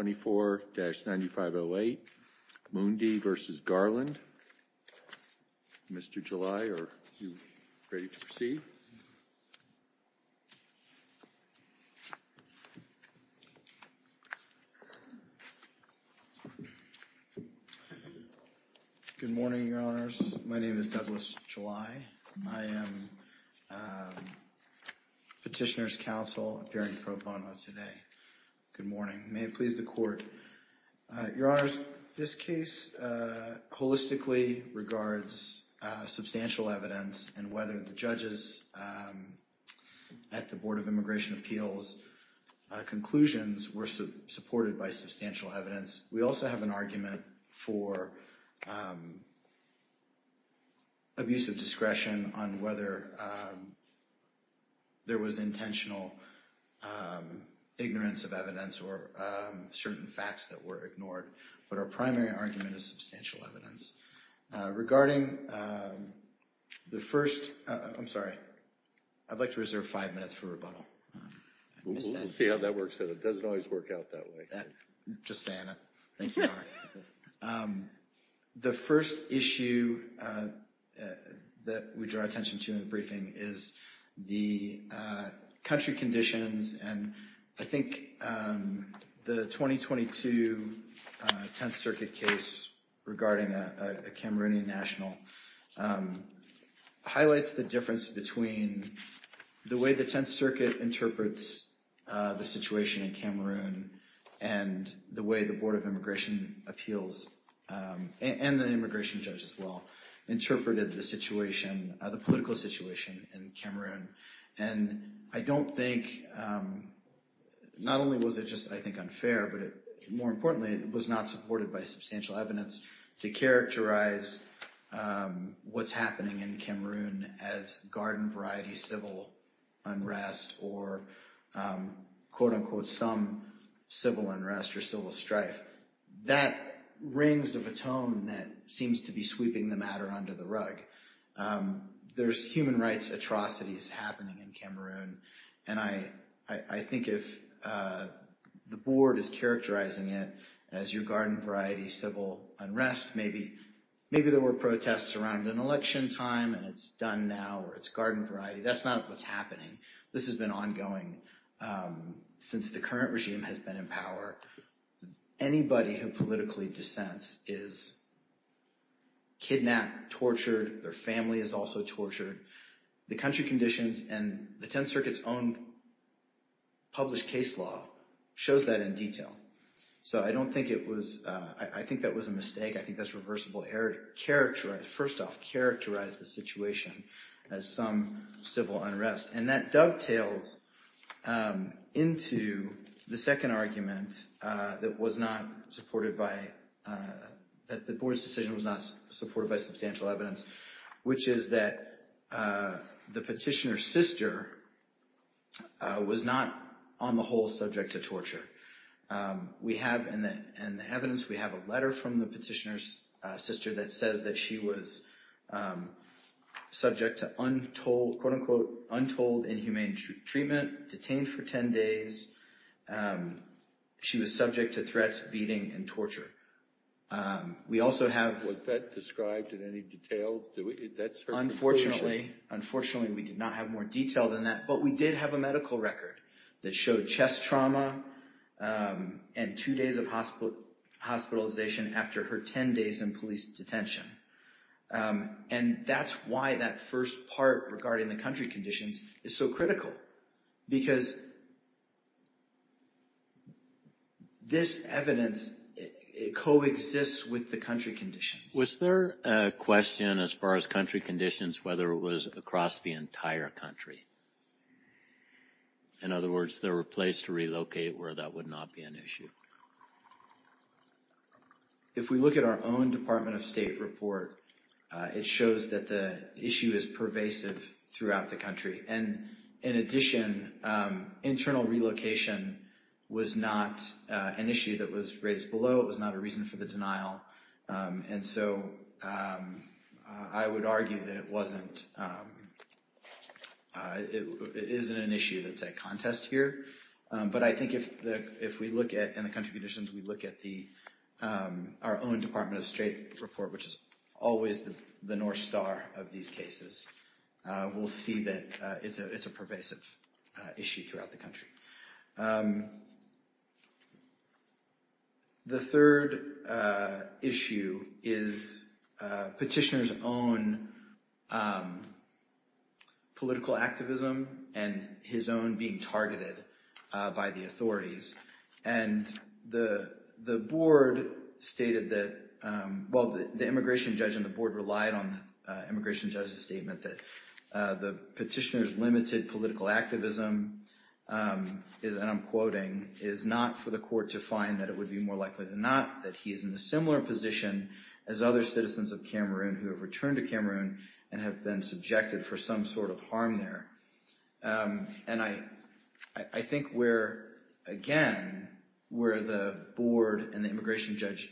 24-9508 Moundih v. Garland. Mr. July, are you ready to proceed? Good morning, Your Honors. My name is Douglas July. I am Petitioner's Counsel during pro court. Your Honors, this case holistically regards substantial evidence and whether the judges at the Board of Immigration Appeals conclusions were supported by substantial evidence. We also have an argument for abuse of discretion on whether there was intentional ignorance of evidence or certain facts that were ignored. But our primary argument is substantial evidence. Regarding the first, I'm sorry, I'd like to reserve five minutes for rebuttal. We'll see how that works. It doesn't always work out that way. Just saying. Thank you, Your Honor. The first issue that we draw attention to in the briefing is the country conditions. And I think the 2022 Tenth Circuit case regarding a Cameroonian national highlights the difference between the way the Tenth Circuit interprets the situation in Cameroon and the way the Board of Immigration Appeals, and the immigration judge as well, interpreted the situation, the political situation in Cameroon. And I don't think, not only was it just I think unfair, but more importantly, it was not supported by substantial evidence to characterize what's happening in Cameroon as garden variety civil unrest or quote-unquote some civil unrest or civil strife. That rings of a tone that seems to be sweeping the matter under the rug. There's human rights atrocities happening in Cameroon, and I think if the board is characterizing it as your garden variety civil unrest, maybe there were protests around an election time and it's done now or it's garden variety. That's not what's happening. This has been ongoing since the current regime has been in power. Anybody who politically dissents is kidnapped, tortured, their family is also tortured. The country conditions and the Tenth Circuit's own published case law shows that in detail. So I don't think it was, I think that was a mistake. I think that's reversible error to characterize, first off, characterize the situation as some civil unrest. And that dovetails into the second argument that was not supported by, that the board's decision was not supported by substantial evidence, which is that the petitioner's sister was not, on the whole, subject to torture. We know that she was subject to untold, quote unquote, untold inhumane treatment, detained for 10 days. She was subject to threats, beating, and torture. We also have... Was that described in any detail? That's her conclusion. Unfortunately, we did not have more detail than that, but we did have a medical record that showed chest trauma and two days of hospitalization after her 10 days in police detention. And that's why that first part regarding the country conditions is so critical, because this evidence coexists with the country conditions. Was there a question as far as country conditions, whether it was across the entire country? In other words, there were places to relocate where that would not be an issue? If we look at our own Department of State report, it shows that the issue is pervasive throughout the country. And in addition, internal relocation was not an issue that was raised below. It was not a reason for the denial. And so I would argue that it isn't an issue that's at contest here. But I think if we look at, in the country conditions, we look at our own Department of State report, which is always the North Star of these cases, we'll see that it's a pervasive issue throughout the country. The third issue is petitioners' own political activism and his own being targeted by the authorities. And the board stated that, well, the immigration judge and the board relied on the immigration judge's statement that the petitioners limited political activism is, and I'm quoting, is not for the court to find that it would be more likely than not that he is in a similar position as other citizens of Cameroon who have returned to Cameroon and have been subjected for some sort of harm there. And I think we're, again, where the board and the immigration judge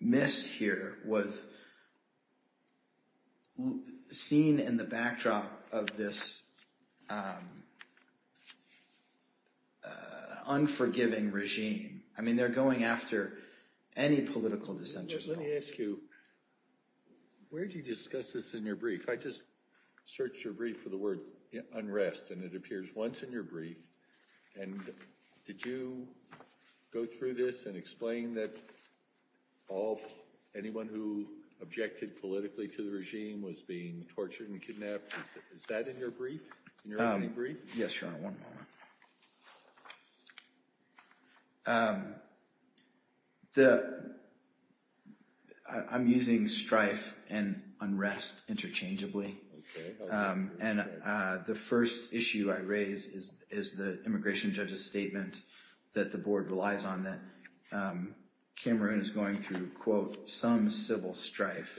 miss here was seen in the backdrop of this unforgiving regime. I mean, they're going after any political dissenters. Let me ask you, where do you discuss this in your brief? I just searched your brief for the word unrest, and it appears once in your brief. And did you go through this and explain that all anyone who objected politically to the regime was being tortured and kidnapped? Is that in your brief, in your brief? Yes, Your Honor. One moment. I'm using strife and unrest interchangeably. And the first issue I raise is the immigration judge's statement that the board relies on that Cameroon is going through, quote, some civil strife.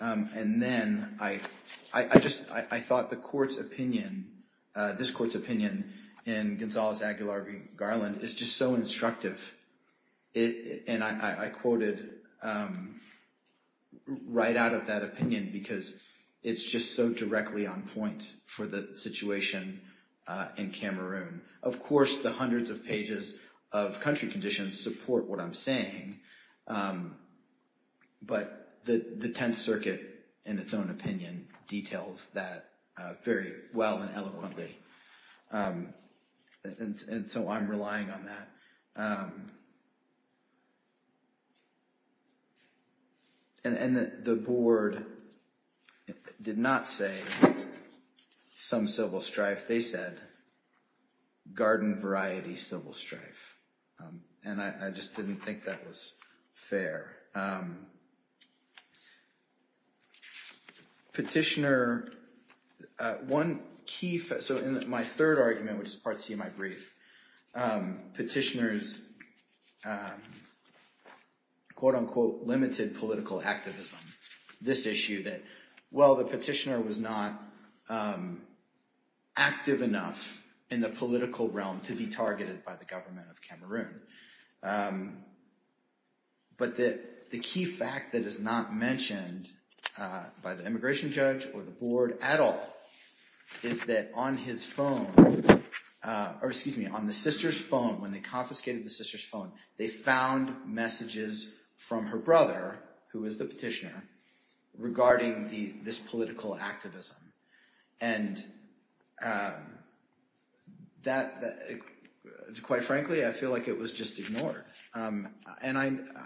And then I thought the court's opinion, this court's opinion in Gonzalo Zagular v. Garland is just so instructive. And I quoted right out of that opinion because it's just so directly on point for the situation in Cameroon. Of course, the hundreds of pages of country conditions support what I'm saying. But the Tenth Circuit, in its own opinion, details that very well and eloquently. And so I'm relying on that. And the board did not say some civil strife. They said garden variety civil strife. And I just didn't think that was fair. Petitioner. One key. So my third argument, which is Part C of my brief, petitioners, quote, unquote, limited political activism. This issue that, well, the petitioner was not active enough in the political realm to be targeted by the government of Cameroon. But the key fact that is not mentioned by the immigration judge or the board at all is that on his phone or excuse me, on the sister's phone. When they confiscated the sister's phone, they found messages from her brother, who is the petitioner, regarding this political activism. And that, quite frankly, I feel like it was just ignored. And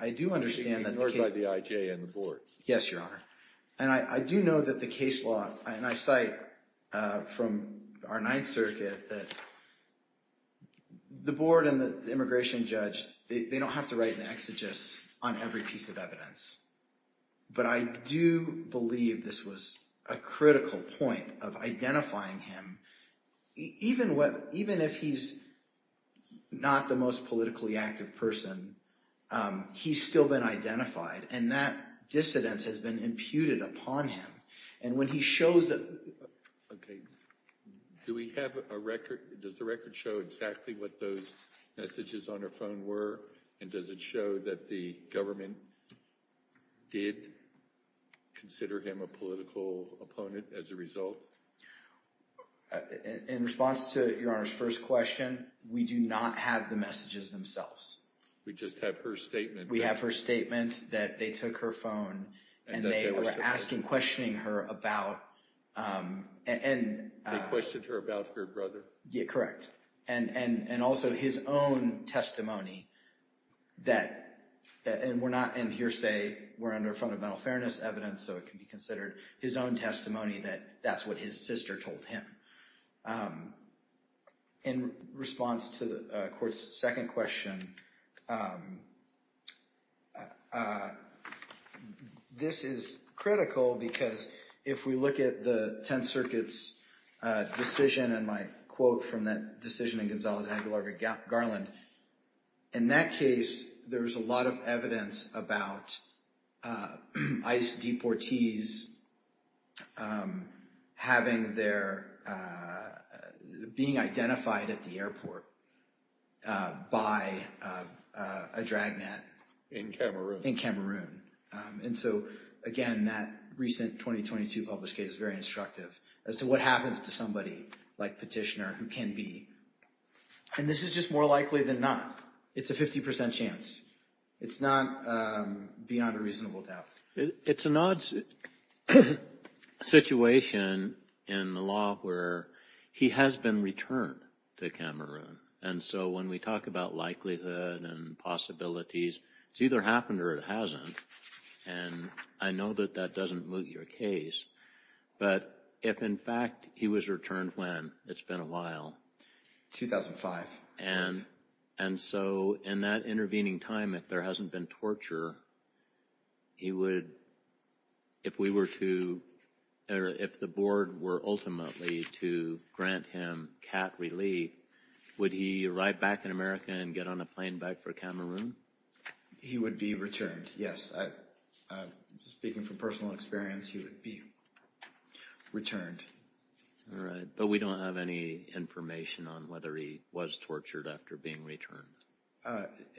I do understand that the IJ and the board. Yes, Your Honor. And I do know that the case law and I cite from our Ninth Circuit that the board and the immigration judge, they don't have to write an exegesis on every piece of evidence. But I do believe this was a critical point of identifying him. Even what even if he's not the most politically active person, he's still been identified and that dissidence has been imputed upon him. And when he shows up. Do we have a record? Does the record show exactly what those messages on her phone were? And does it show that the government did consider him a political opponent as a result? In response to Your Honor's first question, we do not have the messages themselves. We just have her statement. We have her statement that they took her phone and they were asking, questioning her about. And they questioned her about her brother? Yeah, correct. And also his own testimony that, and we're not in hearsay, we're under fundamental fairness evidence, so it can be considered his own testimony that that's what his sister told him. In response to the court's second question, this is critical because if we look at the Tenth Circuit's decision and my quote from that decision in Gonzales-Aguilar v. Garland, in that case, there was a lot of evidence about ICE deportees having their, being identified at the airport by a dragnet. In Cameroon. In Cameroon. And so again, that recent 2022 published case is very instructive as to what happens to somebody like Petitioner who can be. And this is just more likely than not. It's a 50% chance. It's not beyond a reasonable doubt. It's an odd situation in the law where he has been returned to Cameroon. And so when we talk about likelihood and possibilities, it's either happened or it hasn't. And I know that that doesn't moot your case, but if in fact he was returned when? It's been a while. 2005. And so in that intervening time, if there hasn't been torture, he would, if we were to, or if the board were ultimately to grant him cat relief, would he arrive back in America and get on a plane back for Cameroon? He would be returned, yes. Speaking from personal experience, he would be returned. All right. But we don't have any information on whether he was tortured after being returned.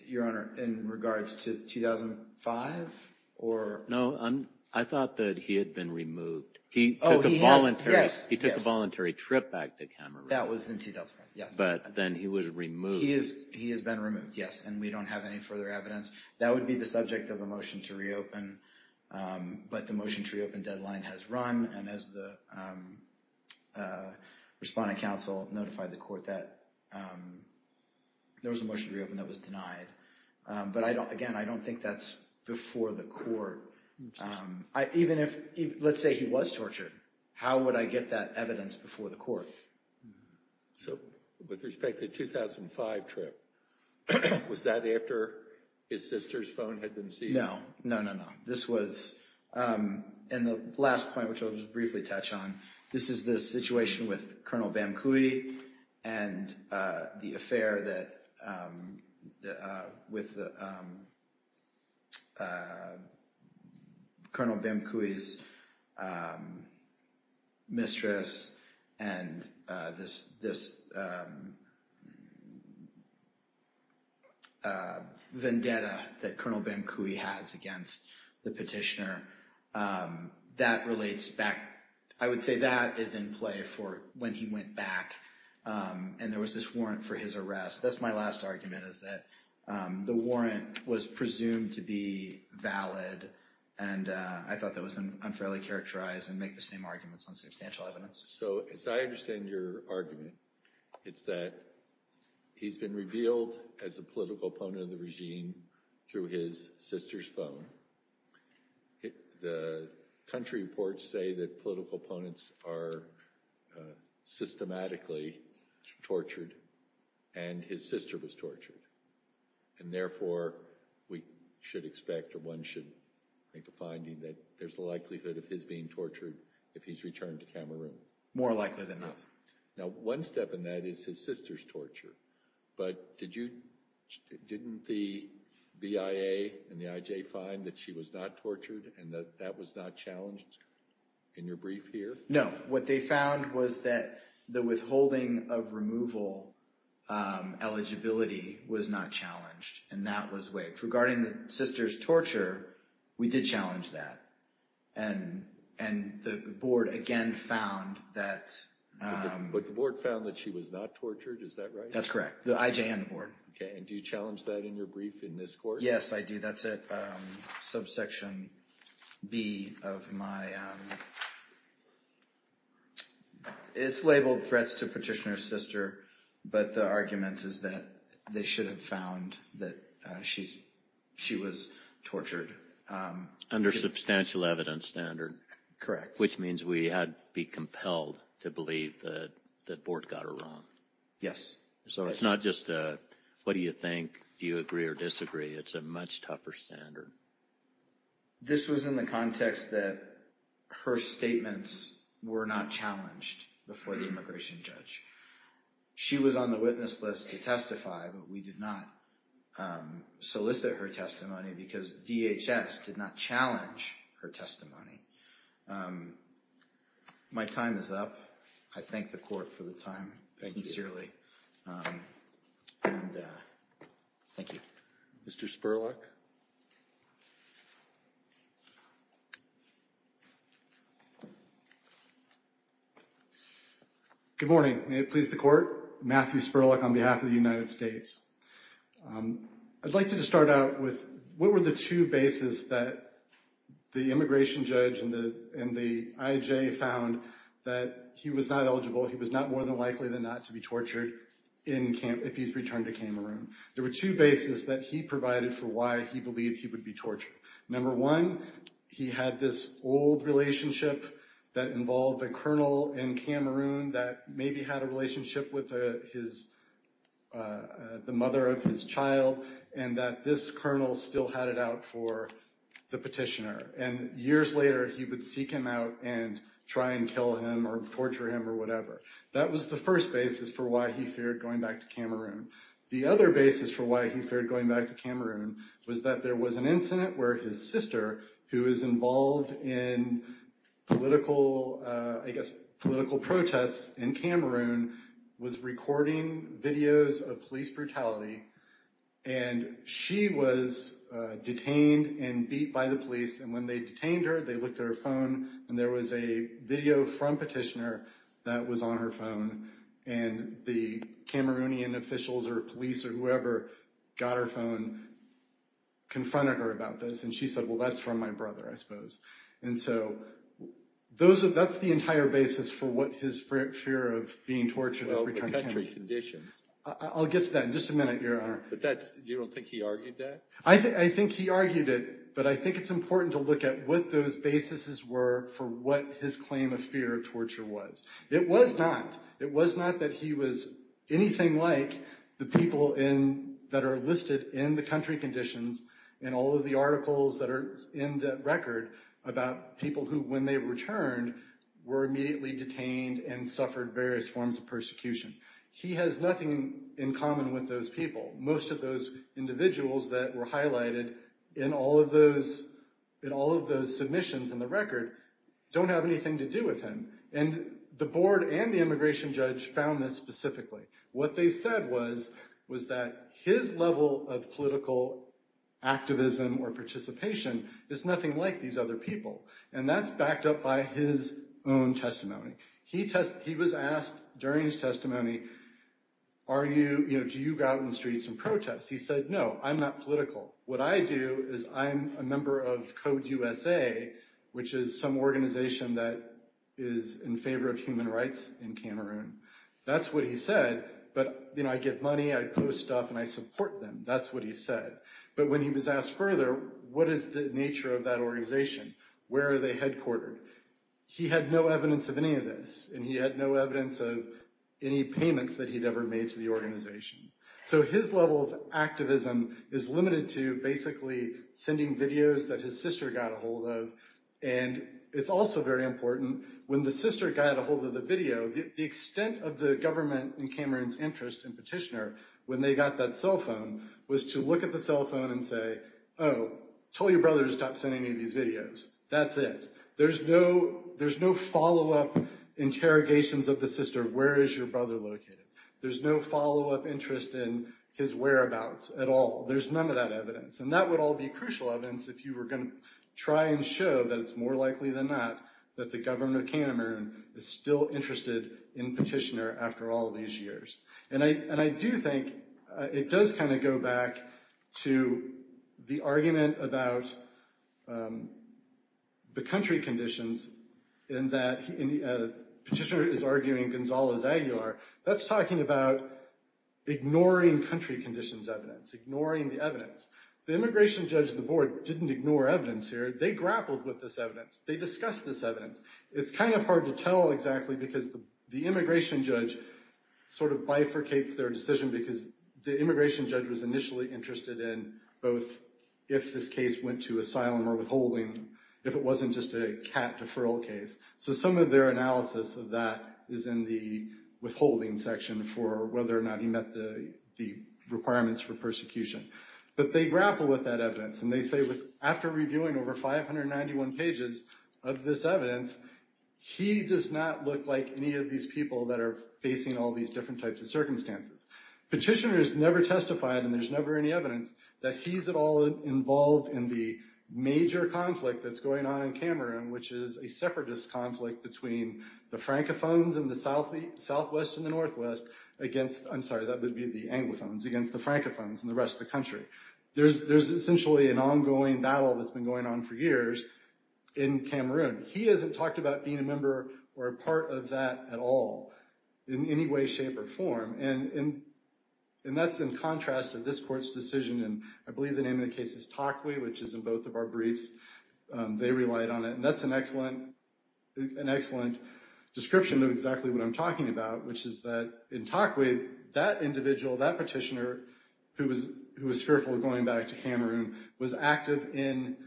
Your Honor, in regards to 2005 or? No, I thought that he had been removed. He took a voluntary trip back to Cameroon. That was in 2005, yes. But then he was removed. He has been removed, yes. And we don't have any further evidence. That would be the subject of a motion to reopen. But the motion to reopen deadline has run, and as the Respondent Counsel notified the court that there was a motion to reopen that was denied. But again, I don't think that's before the court. Even if, let's say he was tortured, how would I get that evidence before the court? So with respect to the 2005 trip, was that after his sister's phone had been seized? No, no, no, no. And the last point, which I'll just briefly touch on, this is the situation with Colonel Bamcoui and the affair with Colonel Bamcoui's mistress, and this vendetta that Colonel Bamcoui has against the petitioner. That relates back, I would say that is in play for when he went back, and there was this warrant for his arrest. That's my last argument, is that the warrant was presumed to be valid, and I thought that was unfairly characterized and make the same arguments on substantial evidence. So as I understand your argument, it's that he's been revealed as a political opponent of the regime through his sister's phone. The country reports say that political opponents are systematically tortured, and his sister was tortured. And therefore, we should expect or one should make a finding that there's a likelihood of his being tortured if he's returned to Cameroon. More likely than not. Now, one step in that is his sister's torture, but didn't the BIA and the IJ find that she was not tortured and that that was not challenged in your brief here? No, what they found was that the withholding of removal eligibility was not challenged, and that was waived. Regarding the sister's torture, we did challenge that, and the board again found that. But the board found that she was not tortured, is that right? That's correct, the IJ and the board. Okay, and do you challenge that in your brief in this court? Yes, I do. That's it, subsection B of my, it's labeled threats to petitioner's sister, but the argument is that they should have found that she was tortured. Under substantial evidence standard. Correct. Which means we had to be compelled to believe that the board got her wrong. Yes. So it's not just a what do you think, do you agree or disagree, it's a much tougher standard. This was in the context that her statements were not challenged before the immigration judge. She was on the witness list to testify, but we did not solicit her testimony because DHS did not challenge her testimony. My time is up. I thank the court for the time. Thank you. Sincerely. And thank you. Mr. Spurlock. Good morning, may it please the court. Matthew Spurlock on behalf of the United States. I'd like to start out with what were the two bases that the immigration judge and the IJ found that he was not eligible, he was not more than likely than not to be tortured if he's returned to Cameroon. There were two bases that he provided for why he believed he would be tortured. Number one, he had this old relationship that involved a colonel in Cameroon that maybe had a relationship with the mother of his child and that this colonel still had it out for the petitioner. And years later he would seek him out and try and kill him or torture him or whatever. That was the first basis for why he feared going back to Cameroon. The other basis for why he feared going back to Cameroon was that there was an incident where his sister, who is involved in political, I guess, political protests in Cameroon, was recording videos of police brutality. And she was detained and beat by the police. And when they detained her, they looked at her phone and there was a video from petitioner that was on her phone. And the Cameroonian officials or police or whoever got her phone confronted her about this. And she said, well, that's from my brother, I suppose. And so that's the entire basis for what his fear of being tortured is. Well, the country conditions. I'll get to that in just a minute, Your Honor. But you don't think he argued that? I think he argued it, but I think it's important to look at what those basis were for what his claim of fear of torture was. It was not. It was not that he was anything like the people that are listed in the country conditions and all of the articles that are in the record about people who, when they returned, were immediately detained and suffered various forms of persecution. He has nothing in common with those people. Most of those individuals that were highlighted in all of those submissions in the record don't have anything to do with him. And the board and the immigration judge found this specifically. What they said was that his level of political activism or participation is nothing like these other people. And that's backed up by his own testimony. He was asked during his testimony, do you go out in the streets and protest? He said, no, I'm not political. What I do is I'm a member of Code USA, which is some organization that is in favor of human rights in Cameroon. That's what he said. But I get money, I post stuff, and I support them. That's what he said. But when he was asked further, what is the nature of that organization? Where are they headquartered? He had no evidence of any of this. And he had no evidence of any payments that he'd ever made to the organization. So his level of activism is limited to basically sending videos that his sister got a hold of. And it's also very important, when the sister got a hold of the video, the extent of the government in Cameroon's interest in Petitioner, when they got that cell phone, was to look at the cell phone and say, oh, tell your brother to stop sending me these videos. That's it. There's no follow-up interrogations of the sister. Where is your brother located? There's no follow-up interest in his whereabouts at all. There's none of that evidence. And that would all be crucial evidence if you were going to try and show that it's more likely than not that the government of Cameroon is still interested in Petitioner after all these years. And I do think it does kind of go back to the argument about the country conditions in that Petitioner is arguing Gonzalo's Aguilar. That's talking about ignoring country conditions evidence, ignoring the evidence. The immigration judge of the board didn't ignore evidence here. They grappled with this evidence. They discussed this evidence. It's kind of hard to tell exactly, because the immigration judge sort of bifurcates their decision, because the immigration judge was initially interested in both if this case went to asylum or withholding, if it wasn't just a cat deferral case. So some of their analysis of that is in the withholding section for whether or not he met the requirements for persecution. But they grappled with that evidence. And they say after reviewing over 591 pages of this evidence, he does not look like any of these people that are facing all these different types of circumstances. Petitioner has never testified, and there's never any evidence, that he's at all involved in the major conflict that's going on in Cameroon, which is a separatist conflict between the Francophones in the southwest and the northwest against, I'm sorry, that would be the Anglophones, against the Francophones in the rest of the country. There's essentially an ongoing battle that's been going on for years in Cameroon. He hasn't talked about being a member or a part of that at all in any way, shape, or form. And that's in contrast to this court's decision. And I believe the name of the case is Takwe, which is in both of our briefs. They relied on it. And that's an excellent description of exactly what I'm talking about, which is that in Takwe, that individual, that petitioner, who was fearful of going back to Cameroon, was active in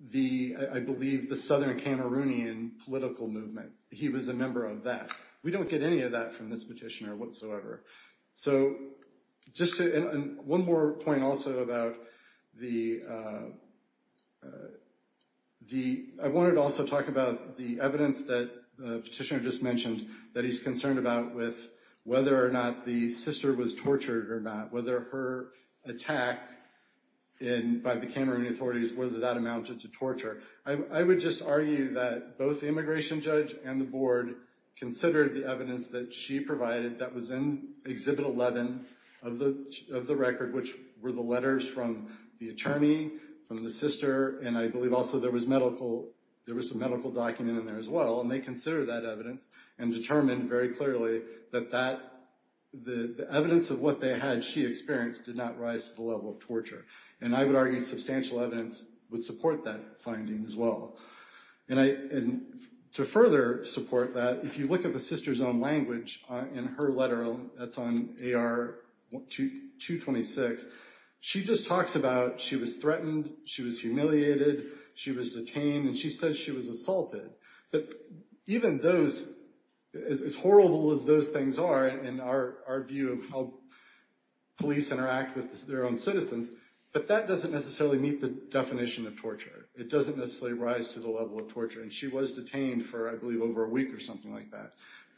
the, I believe, the southern Cameroonian political movement. He was a member of that. We don't get any of that from this petitioner whatsoever. So just to, and one more point also about the, I wanted to also talk about the evidence that the petitioner just mentioned that he's concerned about with whether or not the sister was tortured or not, whether her attack by the Cameroonian authorities, whether that amounted to torture. I would just argue that both the immigration judge and the board considered the evidence that she provided that was in Exhibit 11 of the record, which were the letters from the attorney, from the sister, and I believe also there was medical, there was a medical document in there as well, and they considered that evidence and determined very clearly that that, the evidence of what they had she experienced did not rise to the level of torture. And I would argue substantial evidence would support that finding as well. And to further support that, if you look at the sister's own language in her letter, that's on AR 226, she just talks about she was threatened, she was humiliated, she was detained, and she says she was assaulted. But even those, as horrible as those things are in our view of how police interact with their own citizens, but that doesn't necessarily meet the definition of torture. It doesn't necessarily rise to the level of torture. And she was detained for, I believe, over a week or something like that.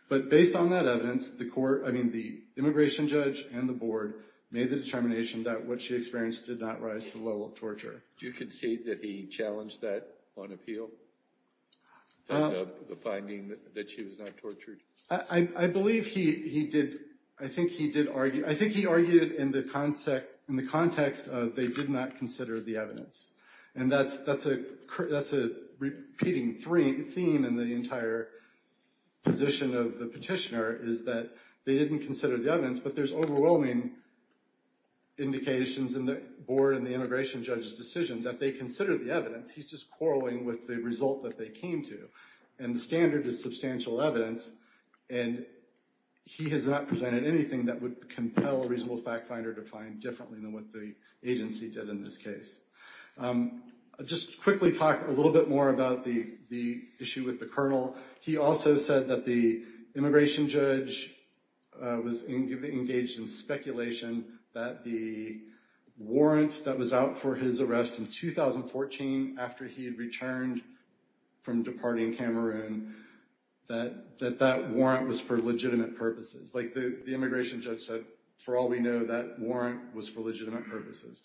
But based on that evidence, the court, I mean, the immigration judge and the board made the determination that what she experienced did not rise to the level of torture. Do you concede that he challenged that on appeal, the finding that she was not tortured? I believe he did, I think he did argue, I think he argued in the context of they did not consider the evidence. And that's a repeating theme in the entire position of the petitioner, is that they didn't consider the evidence, but there's overwhelming indications in the board and the immigration judge's decision that they considered the evidence. He's just quarreling with the result that they came to. And the standard is substantial evidence, and he has not presented anything that would compel a reasonable fact finder to find differently than what the agency did in this case. I'll just quickly talk a little bit more about the issue with the colonel. He also said that the immigration judge was engaged in speculation that the warrant that was out for his arrest in 2014, after he had returned from departing Cameroon, that that warrant was for legitimate purposes. Like the immigration judge said, for all we know, that warrant was for legitimate purposes.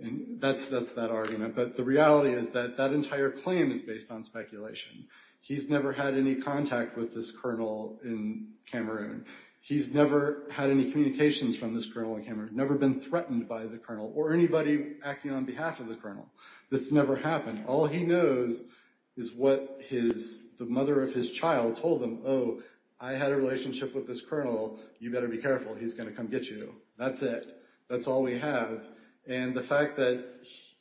And that's that argument. But the reality is that that entire claim is based on speculation. He's never had any contact with this colonel in Cameroon. He's never had any communications from this colonel in Cameroon, never been threatened by the colonel, or anybody acting on behalf of the colonel. This never happened. All he knows is what the mother of his child told him. Oh, I had a relationship with this colonel. You better be careful. He's going to come get you. That's it. That's all we have. And the fact that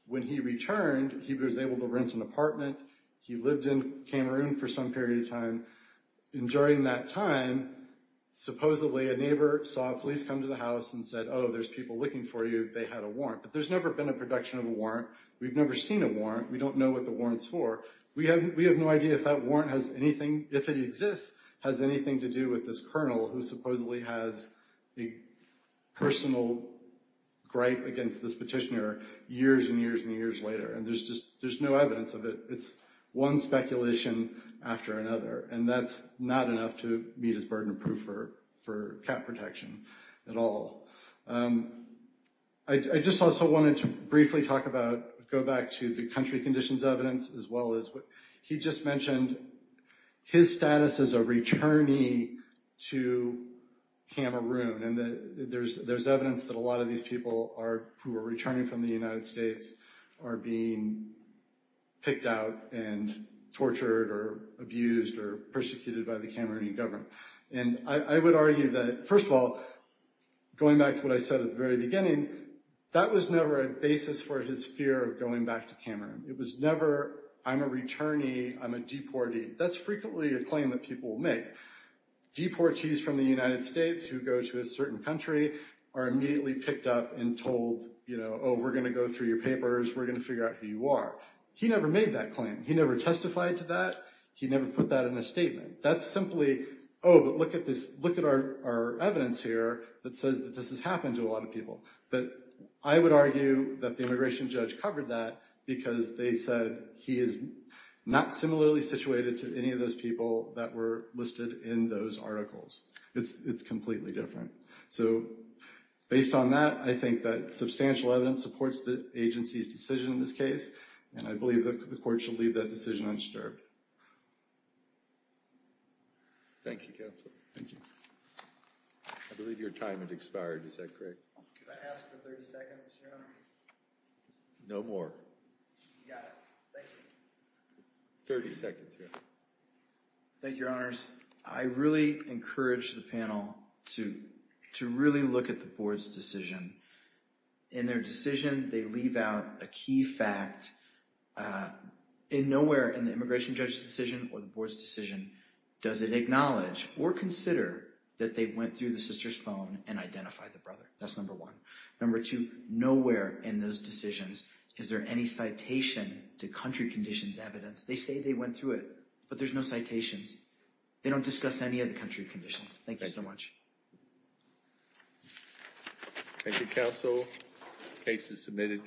when he returned, he was able to rent an apartment. He lived in Cameroon for some period of time. And during that time, supposedly a neighbor saw police come to the house and said, oh, there's people looking for you. They had a warrant. But there's never been a production of a warrant. We've never seen a warrant. We don't know what the warrant's for. We have no idea if that warrant has anything, if it exists, has anything to do with this colonel, who supposedly has a personal gripe against this petitioner years and years and years later. And there's no evidence of it. It's one speculation after another. And that's not enough to meet his burden of proof for cat protection at all. I just also wanted to briefly talk about, go back to the country conditions evidence, as well as what he just mentioned, his status as a returnee to Cameroon. And there's evidence that a lot of these people who are returning from the United States are being picked out and tortured or abused or persecuted by the Cameroonian government. And I would argue that, first of all, going back to what I said at the very beginning, that was never a basis for his fear of going back to Cameroon. It was never, I'm a returnee, I'm a deportee. That's frequently a claim that people make. Deportees from the United States who go to a certain country are immediately picked up and told, oh, we're going to go through your papers, we're going to figure out who you are. He never made that claim. He never testified to that. He never put that in a statement. That's simply, oh, but look at our evidence here that says that this has happened to a lot of people. But I would argue that the immigration judge covered that because they said he is not similarly situated to any of those people that were listed in those articles. It's completely different. So based on that, I think that substantial evidence supports the agency's decision in this case, and I believe the court should leave that decision unstirred. Thank you, counsel. Thank you. I believe your time has expired. Is that correct? Can I ask for 30 seconds, Your Honor? No more. You got it. Thank you. 30 seconds, Your Honor. Thank you, Your Honors. I really encourage the panel to really look at the board's decision. In their decision, they leave out a key fact. Nowhere in the immigration judge's decision or the board's decision does it acknowledge or consider that they went through the sister's phone and identified the brother. That's number one. Number two, nowhere in those decisions is there any citation to country conditions evidence. They say they went through it, but there's no citations. They don't discuss any of the country conditions. Thank you so much. Thank you, counsel. Case is submitted.